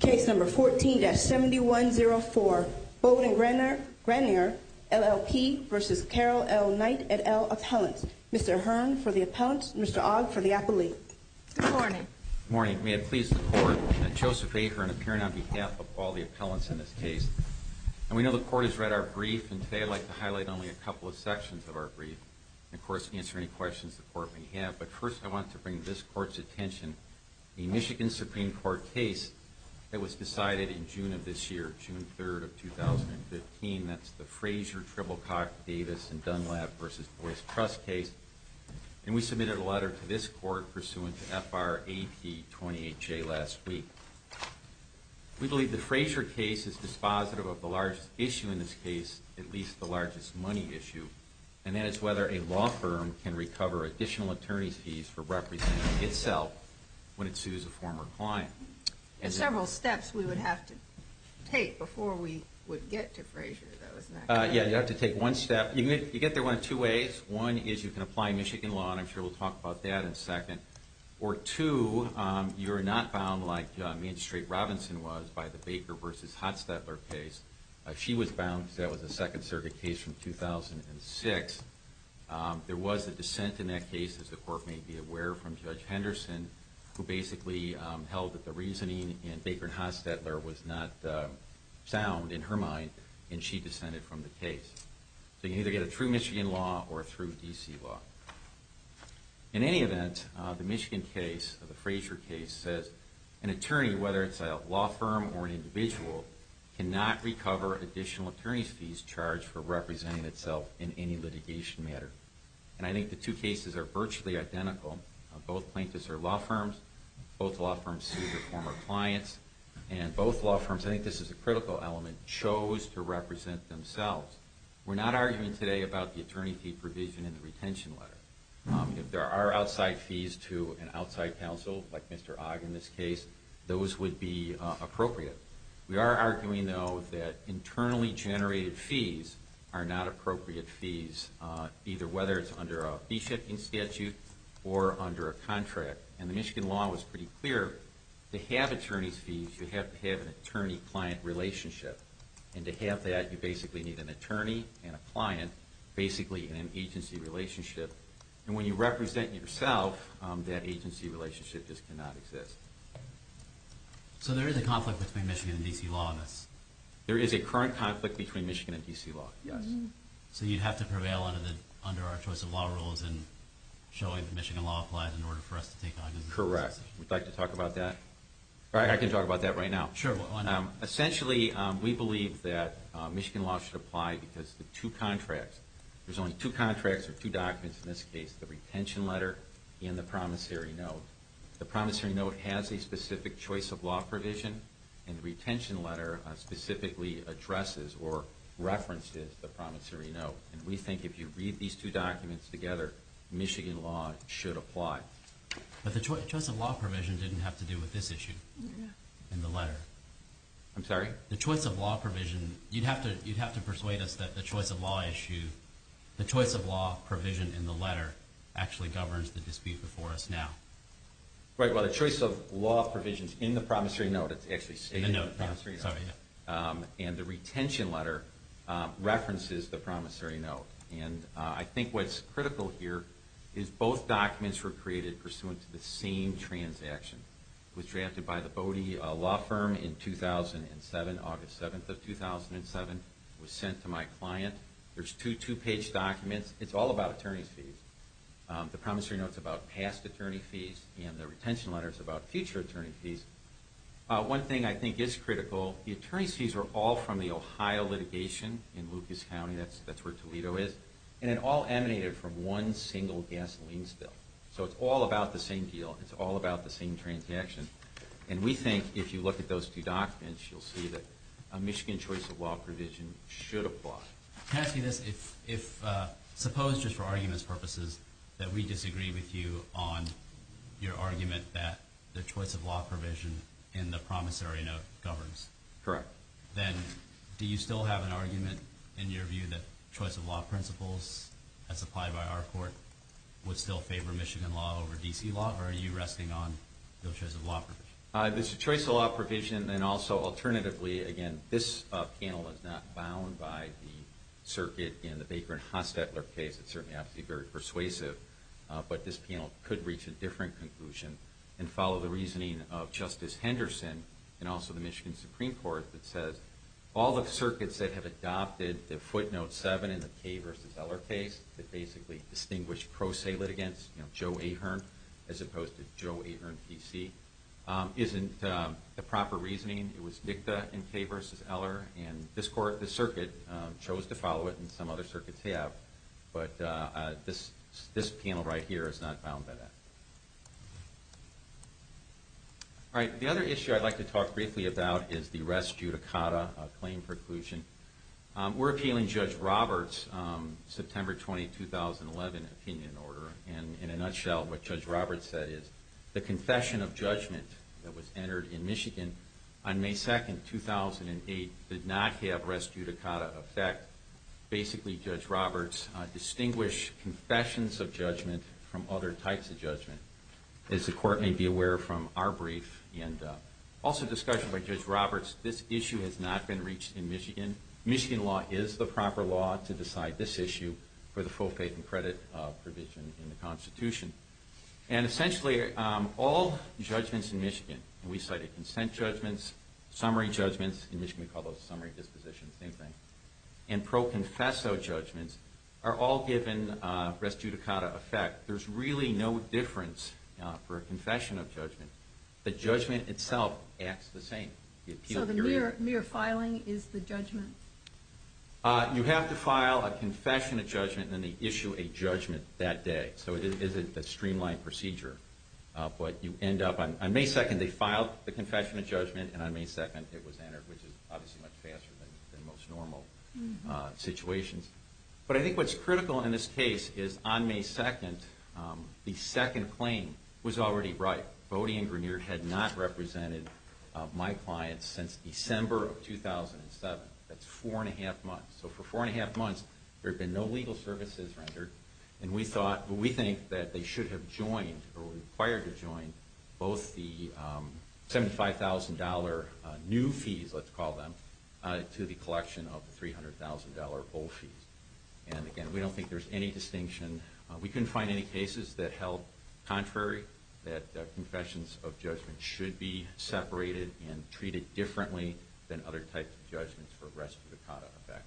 Case number 14-7104, Bode & Grenier, LLP v. Carroll L. Knight et al. Appellant. Mr. Hearn for the appellant, Mr. Ogg for the appellee. Good morning. Good morning. May it please the Court, Joseph A. Hearn appearing on behalf of all the appellants in this case. And we know the Court has read our brief, and today I'd like to highlight only a couple of sections of our brief. And of course, answer any questions the Court may have. But first, I want to bring this Court's attention to the Michigan Supreme Court case that was decided in June of this year, June 3rd of 2015. That's the Frazier-Tribblecock-Davis & Dunlap v. Boyce Trust case. And we submitted a letter to this Court pursuant to FR AP 28J last week. We believe the Frazier case is dispositive of the largest issue in this case, at least the largest money issue. And that is whether a law firm can recover additional attorney's fees for representing itself when it sues a former client. There's several steps we would have to take before we would get to Frazier, though, isn't that correct? Yeah, you'd have to take one step. You get there in two ways. One is you can apply Michigan law, and I'm sure we'll talk about that in a second. Or two, you're not bound like Magistrate Robinson was by the Baker v. Hotstedler case. She was bound because that was a Second Circuit case from 2006. There was a dissent in that case, as the Court may be aware, from Judge Henderson, who basically held that the reasoning in Baker v. Hotstedler was not sound in her mind, and she dissented from the case. So you can either get a true Michigan law or a true D.C. law. In any event, the Michigan case, the Frazier case, says an attorney, whether it's a law firm or an individual, cannot recover additional attorney's fees charged for representing itself in any litigation matter. And I think the two cases are virtually identical. Both plaintiffs are law firms. Both law firms sue their former clients. And both law firms, I think this is a critical element, chose to represent themselves. We're not arguing today about the attorney fee provision in the retention letter. If there are outside fees to an outside counsel, like Mr. Ogg in this case, those would be appropriate. We are arguing, though, that internally generated fees are not appropriate fees, either whether it's under a fee-shifting statute or under a contract. And the Michigan law was pretty clear. To have attorney's fees, you have to have an attorney-client relationship. And to have that, you basically need an attorney and a client, basically in an agency relationship. And when you represent yourself, that agency relationship just cannot exist. So there is a conflict between Michigan and D.C. law in this? There is a current conflict between Michigan and D.C. law, yes. So you'd have to prevail under our choice of law rules in showing that Michigan law applies in order for us to take on this? Correct. Would you like to talk about that? I can talk about that right now. Sure. Essentially, we believe that Michigan law should apply because the two contracts, there's only two contracts or two documents in this case, the retention letter and the promissory note. The promissory note has a specific choice of law provision, and the retention letter specifically addresses or references the promissory note. And we think if you read these two documents together, Michigan law should apply. But the choice of law provision didn't have to do with this issue in the letter. I'm sorry? The choice of law provision, you'd have to persuade us that the choice of law issue, the choice of law provision in the letter actually governs the dispute before us now. Right. Well, the choice of law provisions in the promissory note, it's actually stated in the promissory note. And the retention letter references the promissory note. And I think what's critical here is both documents were created pursuant to the same transaction. It was drafted by the Bodie law firm in 2007, August 7th of 2007. It was sent to my client. There's two two-page documents. It's all about attorney's fees. The promissory note's about past attorney fees, and the retention letter's about future attorney fees. One thing I think is critical, the attorney's fees are all from the Ohio litigation in Lucas County. That's where Toledo is. And it all emanated from one single gasoline spill. So it's all about the same deal. It's all about the same transaction. And we think if you look at those two documents, you'll see that a Michigan choice of law provision should apply. Can I ask you this? Suppose, just for argument's purposes, that we disagree with you on your argument that the choice of law provision in the promissory note governs. Correct. Then do you still have an argument in your view that choice of law principles, as applied by our court, would still favor Michigan law over D.C. law? Or are you resting on the choice of law provision? The choice of law provision, and also alternatively, again, this panel is not bound by the circuit in the Baker and Hostetler case. It certainly has to be very persuasive. But this panel could reach a different conclusion and follow the reasoning of Justice Henderson and also the Michigan Supreme Court that says all the circuits that have adopted the footnote 7 in the Kay versus Eller case, that basically distinguish pro se litigants, Joe Ahearn as opposed to Joe Ahearn, D.C., isn't the proper reasoning. It was NICTA in Kay versus Eller. And this circuit chose to follow it, and some other circuits have. But this panel right here is not bound by that. All right. The other issue I'd like to talk briefly about is the res judicata claim preclusion. We're appealing Judge Roberts' September 20, 2011, opinion order. And in a nutshell, what Judge Roberts said is the confession of judgment that was entered in Michigan on May 2, 2008, did not have res judicata effect. Basically, Judge Roberts distinguished confessions of judgment from other types of judgment. As the Court may be aware from our brief and also discussion by Judge Roberts, this issue has not been reached in Michigan. Michigan law is the proper law to decide this issue for the full faith and credit provision in the Constitution. And essentially, all judgments in Michigan, and we cited consent judgments, summary judgments. In Michigan, we call those summary dispositions, same thing. And pro confesso judgments are all given res judicata effect. There's really no difference for a confession of judgment. The judgment itself acts the same. So the mere filing is the judgment? You have to file a confession of judgment, and then they issue a judgment that day. So it is a streamlined procedure. But you end up, on May 2, they filed the confession of judgment, and on May 2, it was entered, which is obviously much faster than most normal situations. But I think what's critical in this case is on May 2, the second claim was already right. Bodie and Grenier had not represented my clients since December of 2007. That's four and a half months. So for four and a half months, there had been no legal services rendered. And we thought, well, we think that they should have joined or were required to join both the $75,000 new fees, let's call them, to the collection of the $300,000 old fees. And again, we don't think there's any distinction. We couldn't find any cases that held contrary, that confessions of judgment should be separated and treated differently than other types of judgments for res judicata effect.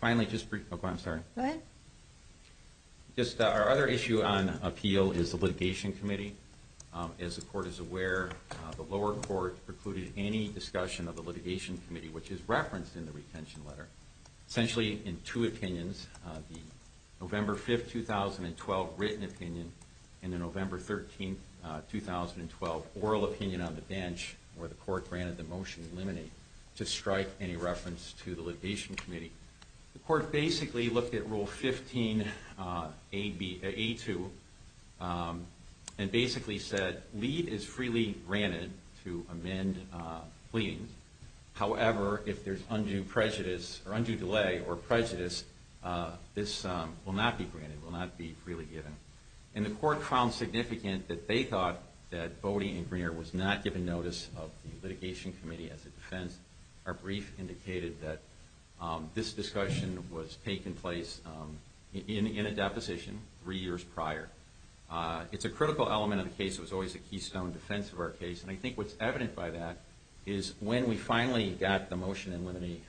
Finally, just briefly, oh, I'm sorry. Go ahead. Just our other issue on appeal is the litigation committee. As the court is aware, the lower court precluded any discussion of the litigation committee, which is referenced in the retention letter. Essentially, in two opinions, the November 5, 2012 written opinion and the November 13, 2012 oral opinion on the bench, where the court granted the motion to eliminate, to strike any reference to the litigation committee. The court basically looked at Rule 15A2 and basically said, lead is freely granted to amend pleadings. However, if there's undue delay or prejudice, this will not be granted, will not be freely given. And the court found significant that they thought that Bodie and Grenier was not given notice of the litigation committee as a defense. Our brief indicated that this discussion was taking place in a deposition three years prior. It's a critical element of the case. It was always a keystone defense of our case. And I think what's evident by that is when we finally got the motion eliminated,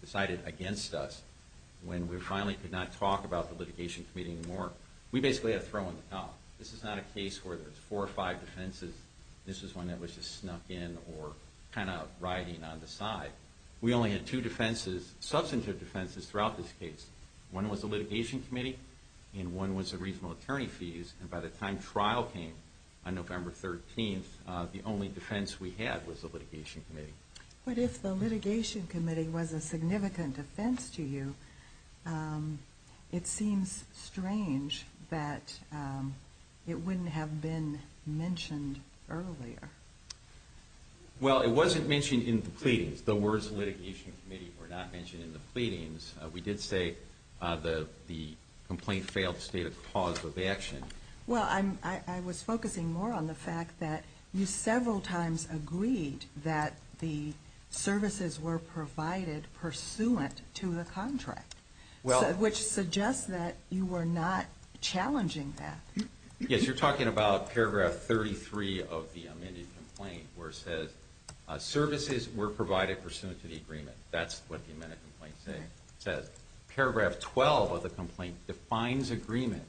decided against us, when we finally could not talk about the litigation committee anymore, we basically had a throw in the towel. This is not a case where there's four or five defenses. This is one that was just snuck in or kind of riding on the side. We only had two defenses, substantive defenses, throughout this case. One was the litigation committee and one was the reasonable attorney fees. And by the time trial came on November 13th, the only defense we had was the litigation committee. But if the litigation committee was a significant defense to you, it seems strange that it wouldn't have been mentioned earlier. Well, it wasn't mentioned in the pleadings. The words litigation committee were not mentioned in the pleadings. We did say the complaint failed to state a cause of action. Well, I was focusing more on the fact that you several times agreed that the services were provided pursuant to the contract, which suggests that you were not challenging that. Yes, you're talking about paragraph 33 of the amended complaint where it says services were provided pursuant to the agreement. That's what the amended complaint says. Paragraph 12 of the complaint defines agreement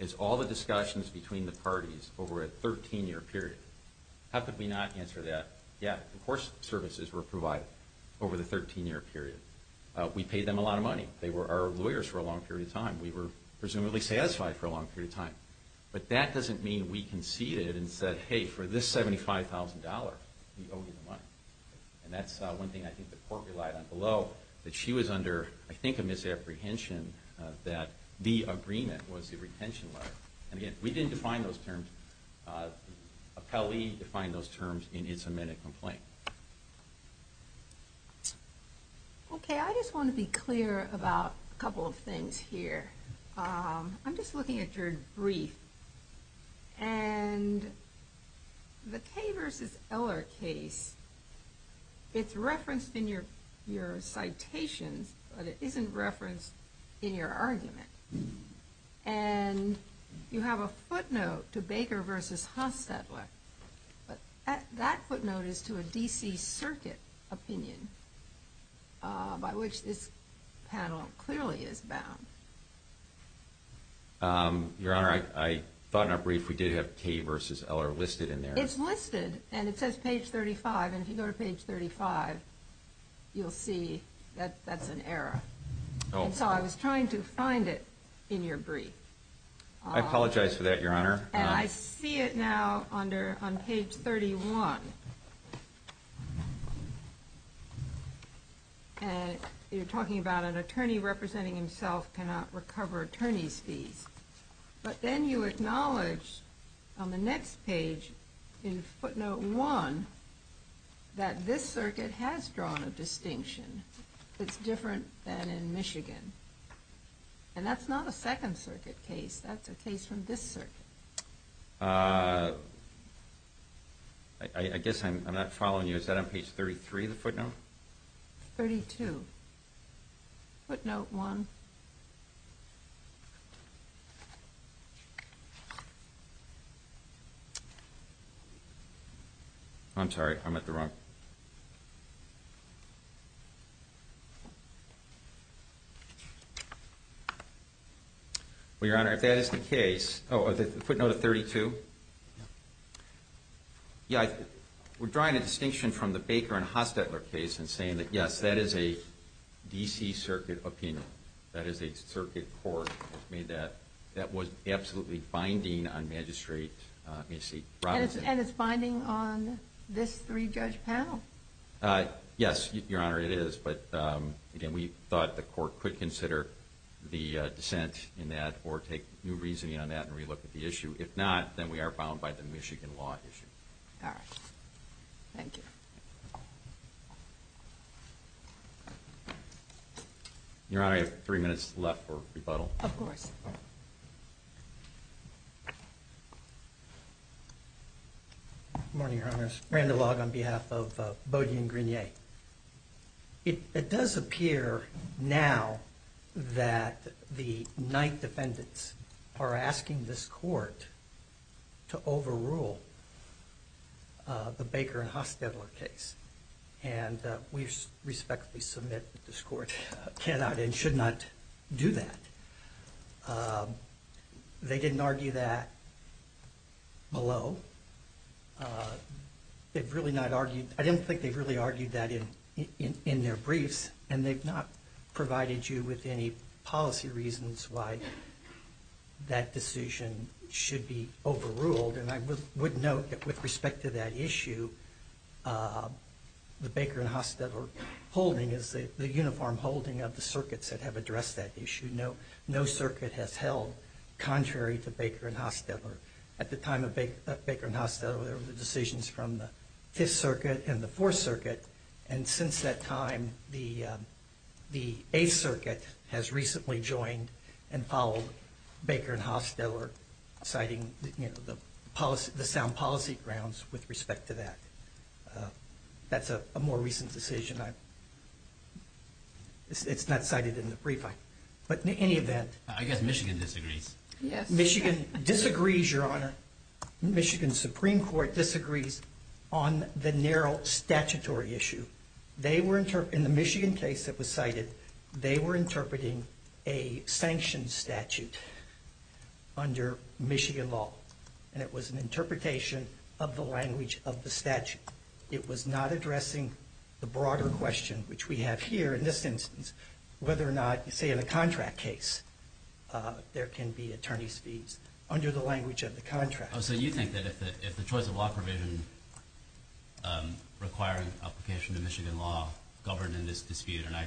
as all the discussions between the parties over a 13-year period. How could we not answer that? Yeah, of course services were provided over the 13-year period. We paid them a lot of money. They were our lawyers for a long period of time. We were presumably satisfied for a long period of time. But that doesn't mean we conceded and said, hey, for this $75,000, we owe you the money. And that's one thing I think the court relied on below, that she was under, I think, a misapprehension that the agreement was the retention letter. And again, we didn't define those terms. Appellee defined those terms in its amended complaint. Okay, I just want to be clear about a couple of things here. I'm just looking at your brief. And the Kaye v. Eller case, it's referenced in your citations, but it isn't referenced in your argument. And you have a footnote to Baker v. Hostetler, but that footnote is to a D.C. Circuit opinion by which this panel clearly is bound. Your Honor, I thought in our brief we did have Kaye v. Eller listed in there. It's listed. And it says page 35. And if you go to page 35, you'll see that that's an error. And so I was trying to find it in your brief. I apologize for that, Your Honor. And I see it now on page 31. And you're talking about an attorney representing himself cannot recover attorney's fees. But then you acknowledge on the next page in footnote one that this circuit has drawn a distinction that's different than in Michigan. And that's not a Second Circuit case. That's a case from this circuit. I guess I'm not following you. Is that on page 33, the footnote? 32. Footnote one. I'm sorry. I'm at the wrong. Well, Your Honor, if that is the case. Oh, the footnote of 32. Yeah, we're drawing a distinction from the Baker and Hostetler case and saying that, yes, that is a D.C. Circuit opinion. That is a circuit court that made that. That was absolutely binding on Magistrate, let me see, Robinson. And it's binding on this three-judge panel. Yes, Your Honor, it is. But, again, we thought the court could consider the dissent in that or take new reasoning on that and relook at the issue. If not, then we are bound by the Michigan law issue. All right. Thank you. Your Honor, I have three minutes left for rebuttal. Of course. Good morning, Your Honors. Randall Logg on behalf of Bodie and Grenier. It does appear now that the Knight defendants are asking this court to overrule the Baker and Hostetler case. And we respectfully submit that this court cannot and should not do that. They didn't argue that below. I didn't think they really argued that in their briefs. And they've not provided you with any policy reasons why that decision should be overruled. And I would note that with respect to that issue, the Baker and Hostetler holding is the uniform holding of the circuits that have addressed that issue. No circuit has held contrary to Baker and Hostetler. At the time of Baker and Hostetler, there were decisions from the Fifth Circuit and the Fourth Circuit. And since that time, the Eighth Circuit has recently joined and followed Baker and Hostetler, citing the sound policy grounds with respect to that. That's a more recent decision. It's not cited in the brief. But in any event. I guess Michigan disagrees. Yes. Michigan disagrees, Your Honor. Michigan Supreme Court disagrees on the narrow statutory issue. They were in the Michigan case that was cited, they were interpreting a sanctioned statute under Michigan law. And it was an interpretation of the language of the statute. It was not addressing the broader question, which we have here in this instance, whether or not, say, in a contract case, there can be attorney's fees under the language of the contract. So you think that if the choice of law provision requiring application of Michigan law governed in this dispute, and I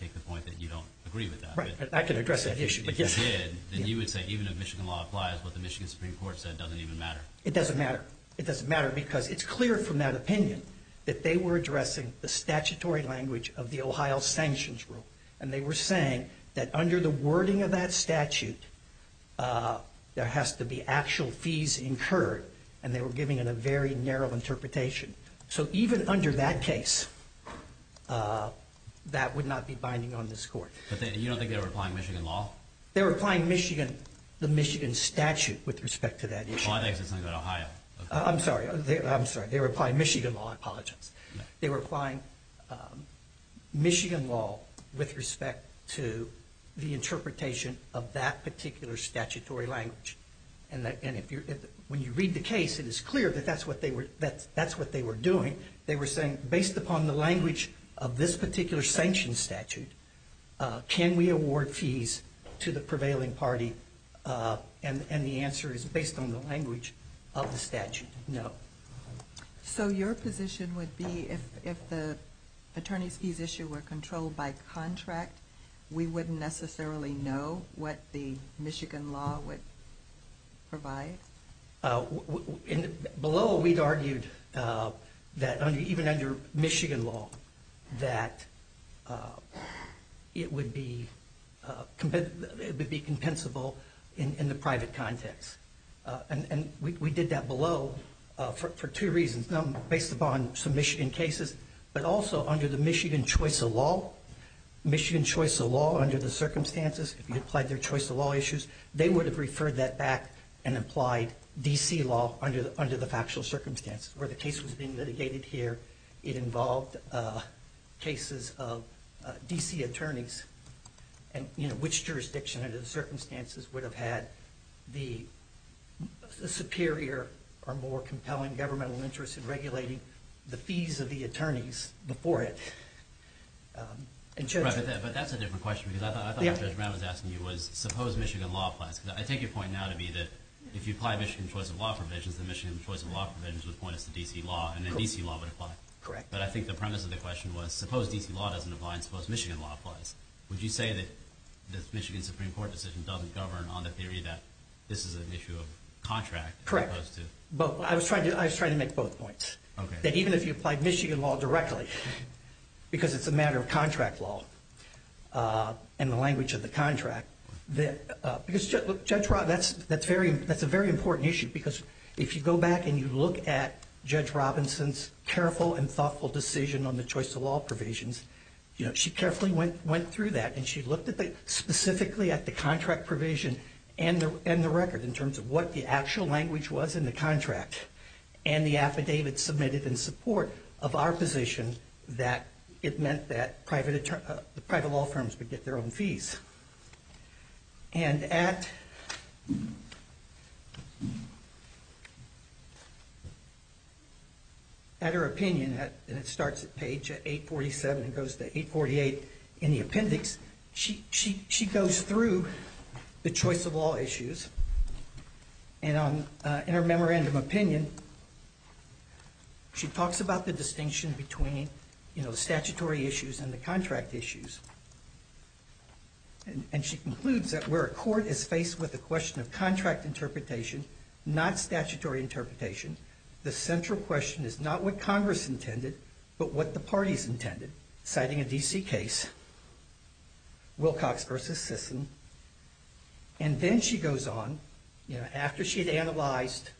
take the point that you don't agree with that. I can address that issue. If you did, then you would say even if Michigan law applies, what the Michigan Supreme Court said doesn't even matter. It doesn't matter. It doesn't matter because it's clear from that opinion that they were addressing the statutory language of the Ohio sanctions rule. And they were saying that under the wording of that statute, there has to be actual fees incurred. And they were giving it a very narrow interpretation. So even under that case, that would not be binding on this court. But you don't think they were applying Michigan law? They were applying Michigan, the Michigan statute with respect to that issue. Well, I think it's something about Ohio. I'm sorry. I'm sorry. They were applying Michigan law. I apologize. They were applying Michigan law with respect to the interpretation of that particular statutory language. And when you read the case, it is clear that that's what they were doing. They were saying based upon the language of this particular sanction statute, can we award fees to the prevailing party? And the answer is based on the language of the statute, no. So your position would be if the attorney's fees issue were controlled by contract, we wouldn't necessarily know what the Michigan law would provide? Below, we'd argued that even under Michigan law, that it would be compensable in the private context. And we did that below for two reasons, based upon some Michigan cases. But also under the Michigan choice of law, Michigan choice of law under the circumstances, if you applied their choice of law issues, they would have referred that back and applied D.C. law under the factual circumstances. Where the case was being litigated here, it involved cases of D.C. attorneys. And which jurisdiction under the circumstances would have had the superior or more compelling governmental interest in regulating the fees of the attorneys before it? But that's a different question. I thought what Judge Brown was asking you was suppose Michigan law applies. I take your point now to be that if you apply Michigan choice of law provisions, then Michigan choice of law provisions would point us to D.C. law, and then D.C. law would apply. Correct. But I think the premise of the question was suppose D.C. law doesn't apply and suppose Michigan law applies. Would you say that the Michigan Supreme Court decision doesn't govern on the theory that this is an issue of contract? Correct. I was trying to make both points. Okay. That even if you applied Michigan law directly, because it's a matter of contract law and the language of the contract, because Judge Brown, that's a very important issue because if you go back and you look at Judge Robinson's careful and thoughtful decision on the choice of law provisions, she carefully went through that and she looked specifically at the contract provision and the record in terms of what the actual language was in the contract. And the affidavit submitted in support of our position that it meant that private law firms would get their own fees. And at her opinion, and it starts at page 847 and goes to 848 in the appendix, she goes through the choice of law issues. And in her memorandum opinion, she talks about the distinction between statutory issues and the contract issues. And she concludes that where a court is faced with the question of contract interpretation, not statutory interpretation, the central question is not what Congress intended, but what the parties intended, citing a D.C. case, Wilcox v. Sisson. And then she goes on, you know, after she'd analyzed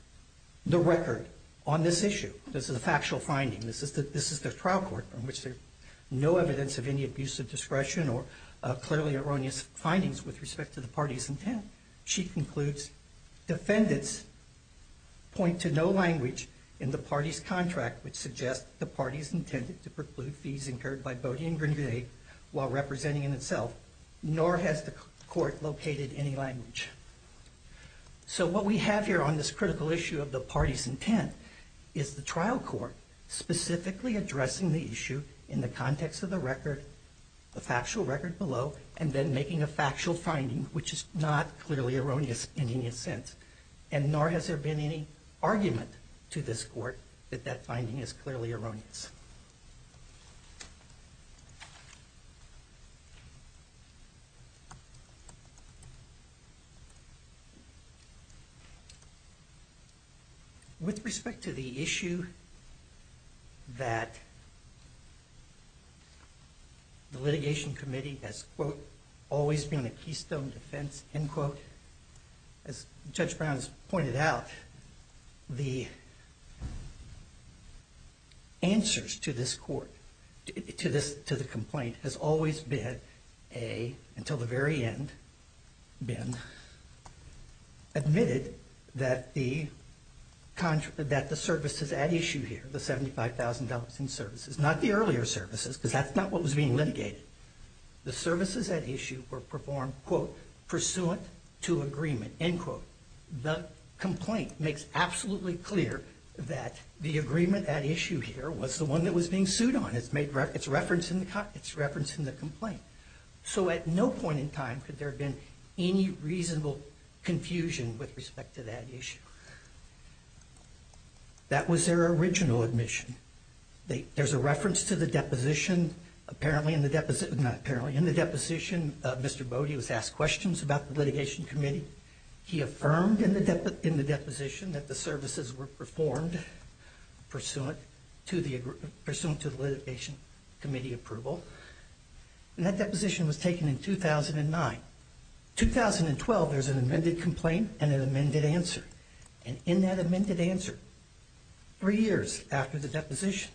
the record on this issue, this is a factual finding, this is the trial court in which there's no evidence of any abuse of discretion or clearly erroneous findings with respect to the party's intent. She concludes defendants point to no language in the party's contract which suggests the party's intended to preclude fees incurred by Bodie and Grenvig while representing in itself, nor has the court located any language. So what we have here on this critical issue of the party's intent is the trial court specifically addressing the issue in the context of the record, the factual record below, and then making a factual finding which is not clearly erroneous in any sense. And nor has there been any argument to this court that that finding is clearly erroneous. With respect to the issue that the litigation committee has, quote, always been a keystone defense, end quote, as Judge Brown has pointed out, the answers to this court, to the complaint has always been a, until the very end, been admitted that the services at issue here, the $75,000 in services, not the earlier services because that's not what was being litigated. The services at issue were performed, quote, pursuant to agreement, end quote. The complaint makes absolutely clear that the agreement at issue here was the one that was being sued on. It's referenced in the complaint. So at no point in time could there have been any reasonable confusion with respect to that issue. That was their original admission. There's a reference to the deposition. Apparently in the deposition, not apparently, in the deposition, Mr. Bode was asked questions about the litigation committee. He affirmed in the deposition that the services were performed pursuant to the litigation committee approval. And that deposition was taken in 2009. 2012, there's an amended complaint and an amended answer. And in that amended answer, three years after the deposition,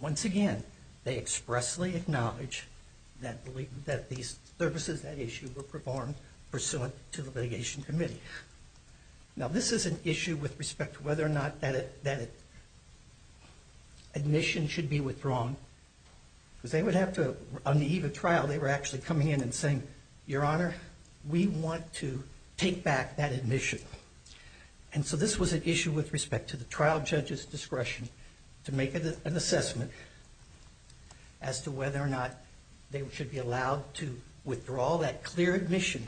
once again, they expressly acknowledge that these services at issue were performed pursuant to the litigation committee. Now this is an issue with respect to whether or not that admission should be withdrawn. Because they would have to, on the eve of trial, they were actually coming in and saying, Your Honor, we want to take back that admission. And so this was an issue with respect to the trial judge's discretion to make an assessment as to whether or not they should be allowed to withdraw that clear admission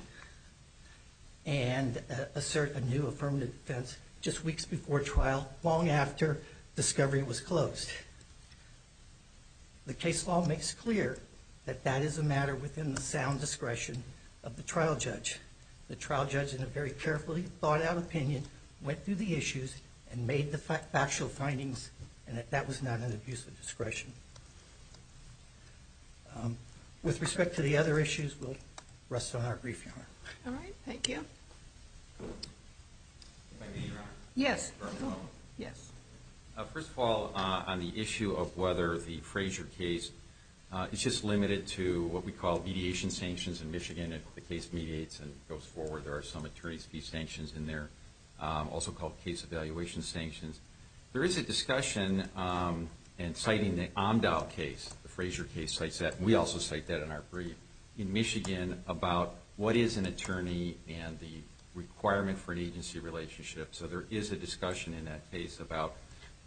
and assert a new affirmative defense just weeks before trial, long after discovery was closed. The case law makes clear that that is a matter within the sound discretion of the trial judge. The trial judge, in a very carefully thought out opinion, went through the issues and made the factual findings and that that was not an abuse of discretion. With respect to the other issues, we'll rest on our brief, Your Honor. All right, thank you. Thank you, Your Honor. Yes. First of all, on the issue of whether the Frazier case, it's just limited to what we call mediation sanctions in Michigan. If the case mediates and goes forward, there are some attorney's fee sanctions in there, also called case evaluation sanctions. There is a discussion in citing the Omdahl case, the Frazier case, we also cite that in our brief, in Michigan about what is an attorney and the requirement for an agency relationship. So there is a discussion in that case about,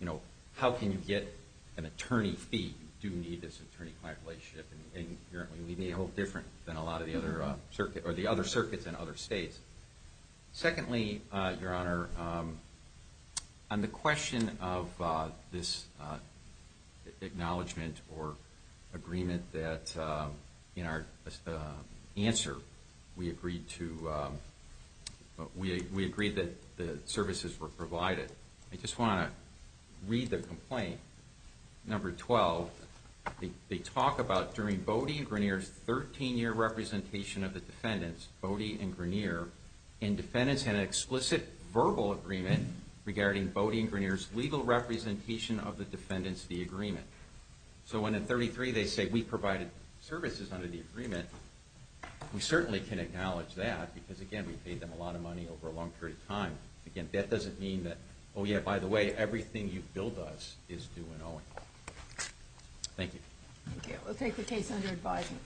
you know, how can you get an attorney fee? You do need this attorney-client relationship and apparently we may hold different than a lot of the other circuits in other states. Secondly, Your Honor, on the question of this acknowledgement or agreement that in our answer we agreed to, we agreed that the services were provided. I just want to read the complaint, number 12. They talk about during Bodie and Grineer's 13-year representation of the defendants, Bodie and Grineer, and defendants had an explicit verbal agreement regarding Bodie and Grineer's legal representation of the defendants of the agreement. So when in 33 they say we provided services under the agreement, we certainly can acknowledge that because, again, we paid them a lot of money over a long period of time. Again, that doesn't mean that, oh yeah, by the way, everything you billed us is due in Owing. Thank you. Thank you. We'll take the case under advisement.